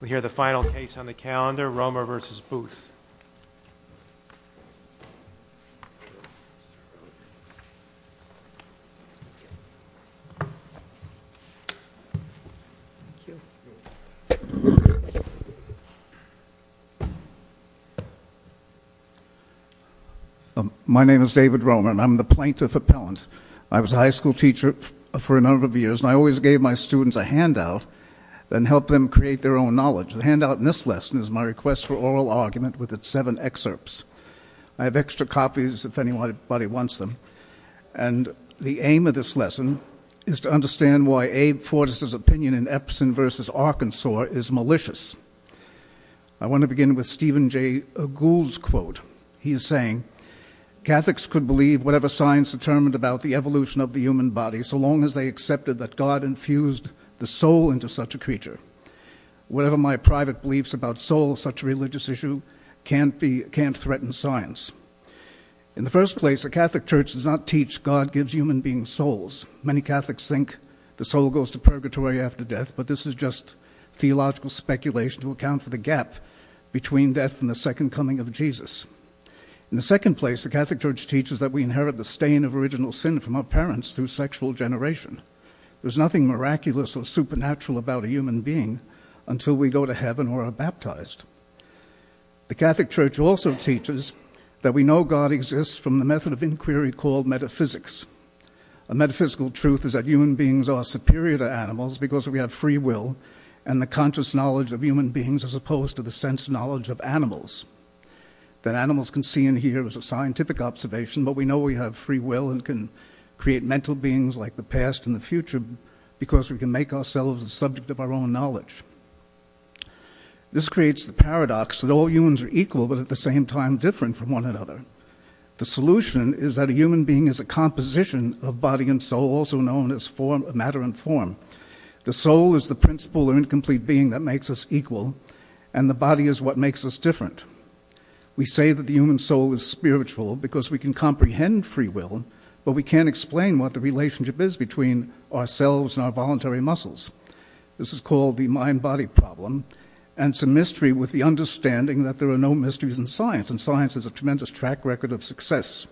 We hear the final case on the calendar, Roemer v. Booth. My name is David Roemer and I'm the Plaintiff Appellant. I was a high school teacher for a number of years and I always gave my students a handout that helped them create their own knowledge. The handout in this lesson is my request for oral argument with its seven excerpts. I have extra copies if anybody wants them. And the aim of this lesson is to understand why Abe Fortas' opinion in Epson v. Arkansas is malicious. I want to begin with Stephen Jay Gould's quote. He is saying, Catholics could believe whatever science determined about the evolution of the human body so long as they accepted that God infused the soul into such a creature. Whatever my private beliefs about soul, such a religious issue, can't threaten science. In the first place, a Catholic church does not teach God gives human beings souls. Many Catholics think the soul goes to purgatory after death, but this is just theological speculation to account for the gap between death and the second coming of Jesus. In the second place, the Catholic church teaches that we inherit the stain of original sin from our parents through sexual generation. There's nothing miraculous or supernatural about a human being until we go to heaven or are baptized. The Catholic church also teaches that we know God exists from the method of inquiry called metaphysics. A metaphysical truth is that human beings are superior to animals because we have free will and the conscious knowledge of human beings as opposed to the sense knowledge of animals. That animals can see and hear is a scientific observation, but we know we have free will and can create mental beings like the past and the future because we can make ourselves the subject of our own knowledge. This creates the paradox that all humans are equal but at the same time different from one another. The solution is that a human being is a composition of body and soul, also known as matter and form. The soul is the principle or incomplete being that makes us equal, and the body is what makes us different. We say that the human soul is spiritual because we can comprehend free will, but we can't explain what the relationship is between ourselves and our voluntary muscles. This is called the mind-body problem, and it's a mystery with the understanding that there are no mysteries in science, and science is a tremendous track record of success.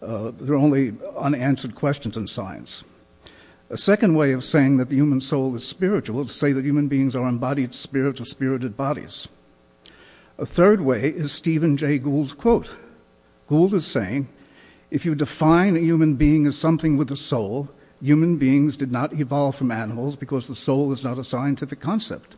There are only unanswered questions in science. A second way of saying that the human soul is spiritual is to say that human beings are embodied spirits of spirited bodies. A third way is Stephen Jay Gould's quote. Gould is saying, if you define a human being as something with a soul, human beings did not evolve from animals because the soul is not a scientific concept.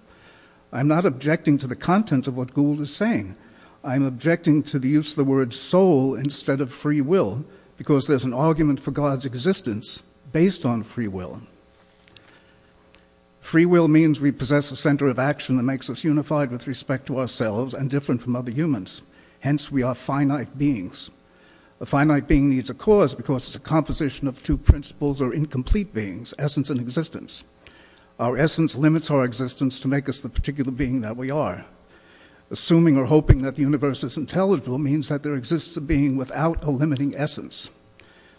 I'm not objecting to the content of what Gould is saying. I'm objecting to the use of the word soul instead of free will because there's an argument for God's existence based on free will. Free will means we possess a center of action that makes us unified with respect to ourselves and different from other humans. Hence, we are finite beings. A finite being needs a cause because it's a composition of two principles or incomplete beings, essence and existence. Our essence limits our existence to make us the particular being that we are. Assuming or hoping that the universe is intelligible means that there exists a being without a limiting essence.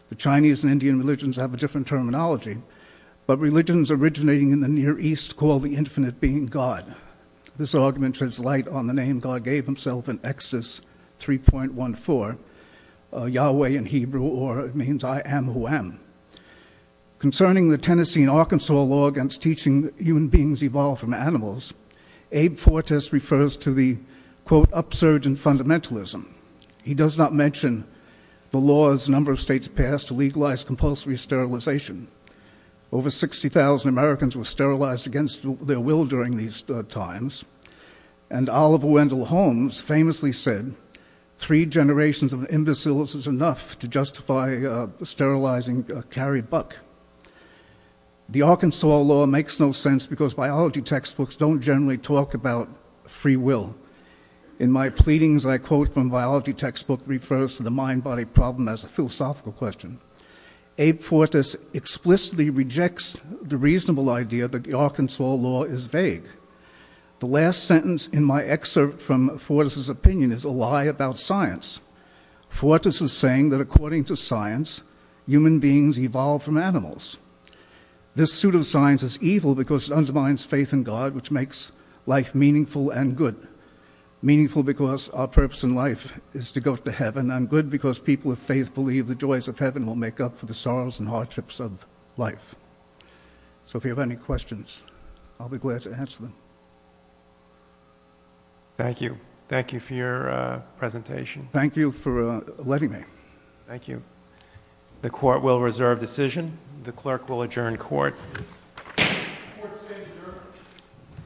The Chinese and Indian religions have a different terminology, but religions originating in the Near East call the infinite being God. This argument sheds light on the name God gave himself in Exodus 3.14, Yahweh in Hebrew, or it means I am who am. Concerning the Tennessee and Arkansas law against teaching human beings evolve from animals, Abe Fortas refers to the, quote, upsurge in fundamentalism. He does not mention the laws a number of states passed to legalize compulsory sterilization. Over 60,000 Americans were sterilized against their will during these times. And Oliver Wendell Holmes famously said, three generations of imbeciles is enough to justify sterilizing a carried buck. The Arkansas law makes no sense because biology textbooks don't generally talk about free will. In my pleadings, I quote from biology textbook refers to the mind-body problem as a philosophical question. Abe Fortas explicitly rejects the reasonable idea that the Arkansas law is vague. The last sentence in my excerpt from Fortas' opinion is a lie about science. Fortas is saying that according to science, human beings evolve from animals. This suit of science is evil because it undermines faith in God, which makes life meaningful and good. Meaningful because our purpose in life is to go to heaven, and good because people of faith believe the joys of heaven will make up for the sorrows and hardships of life. So if you have any questions, I'll be glad to answer them. Thank you. Thank you for your presentation. Thank you for letting me. Thank you. The court will reserve decision. The clerk will adjourn court.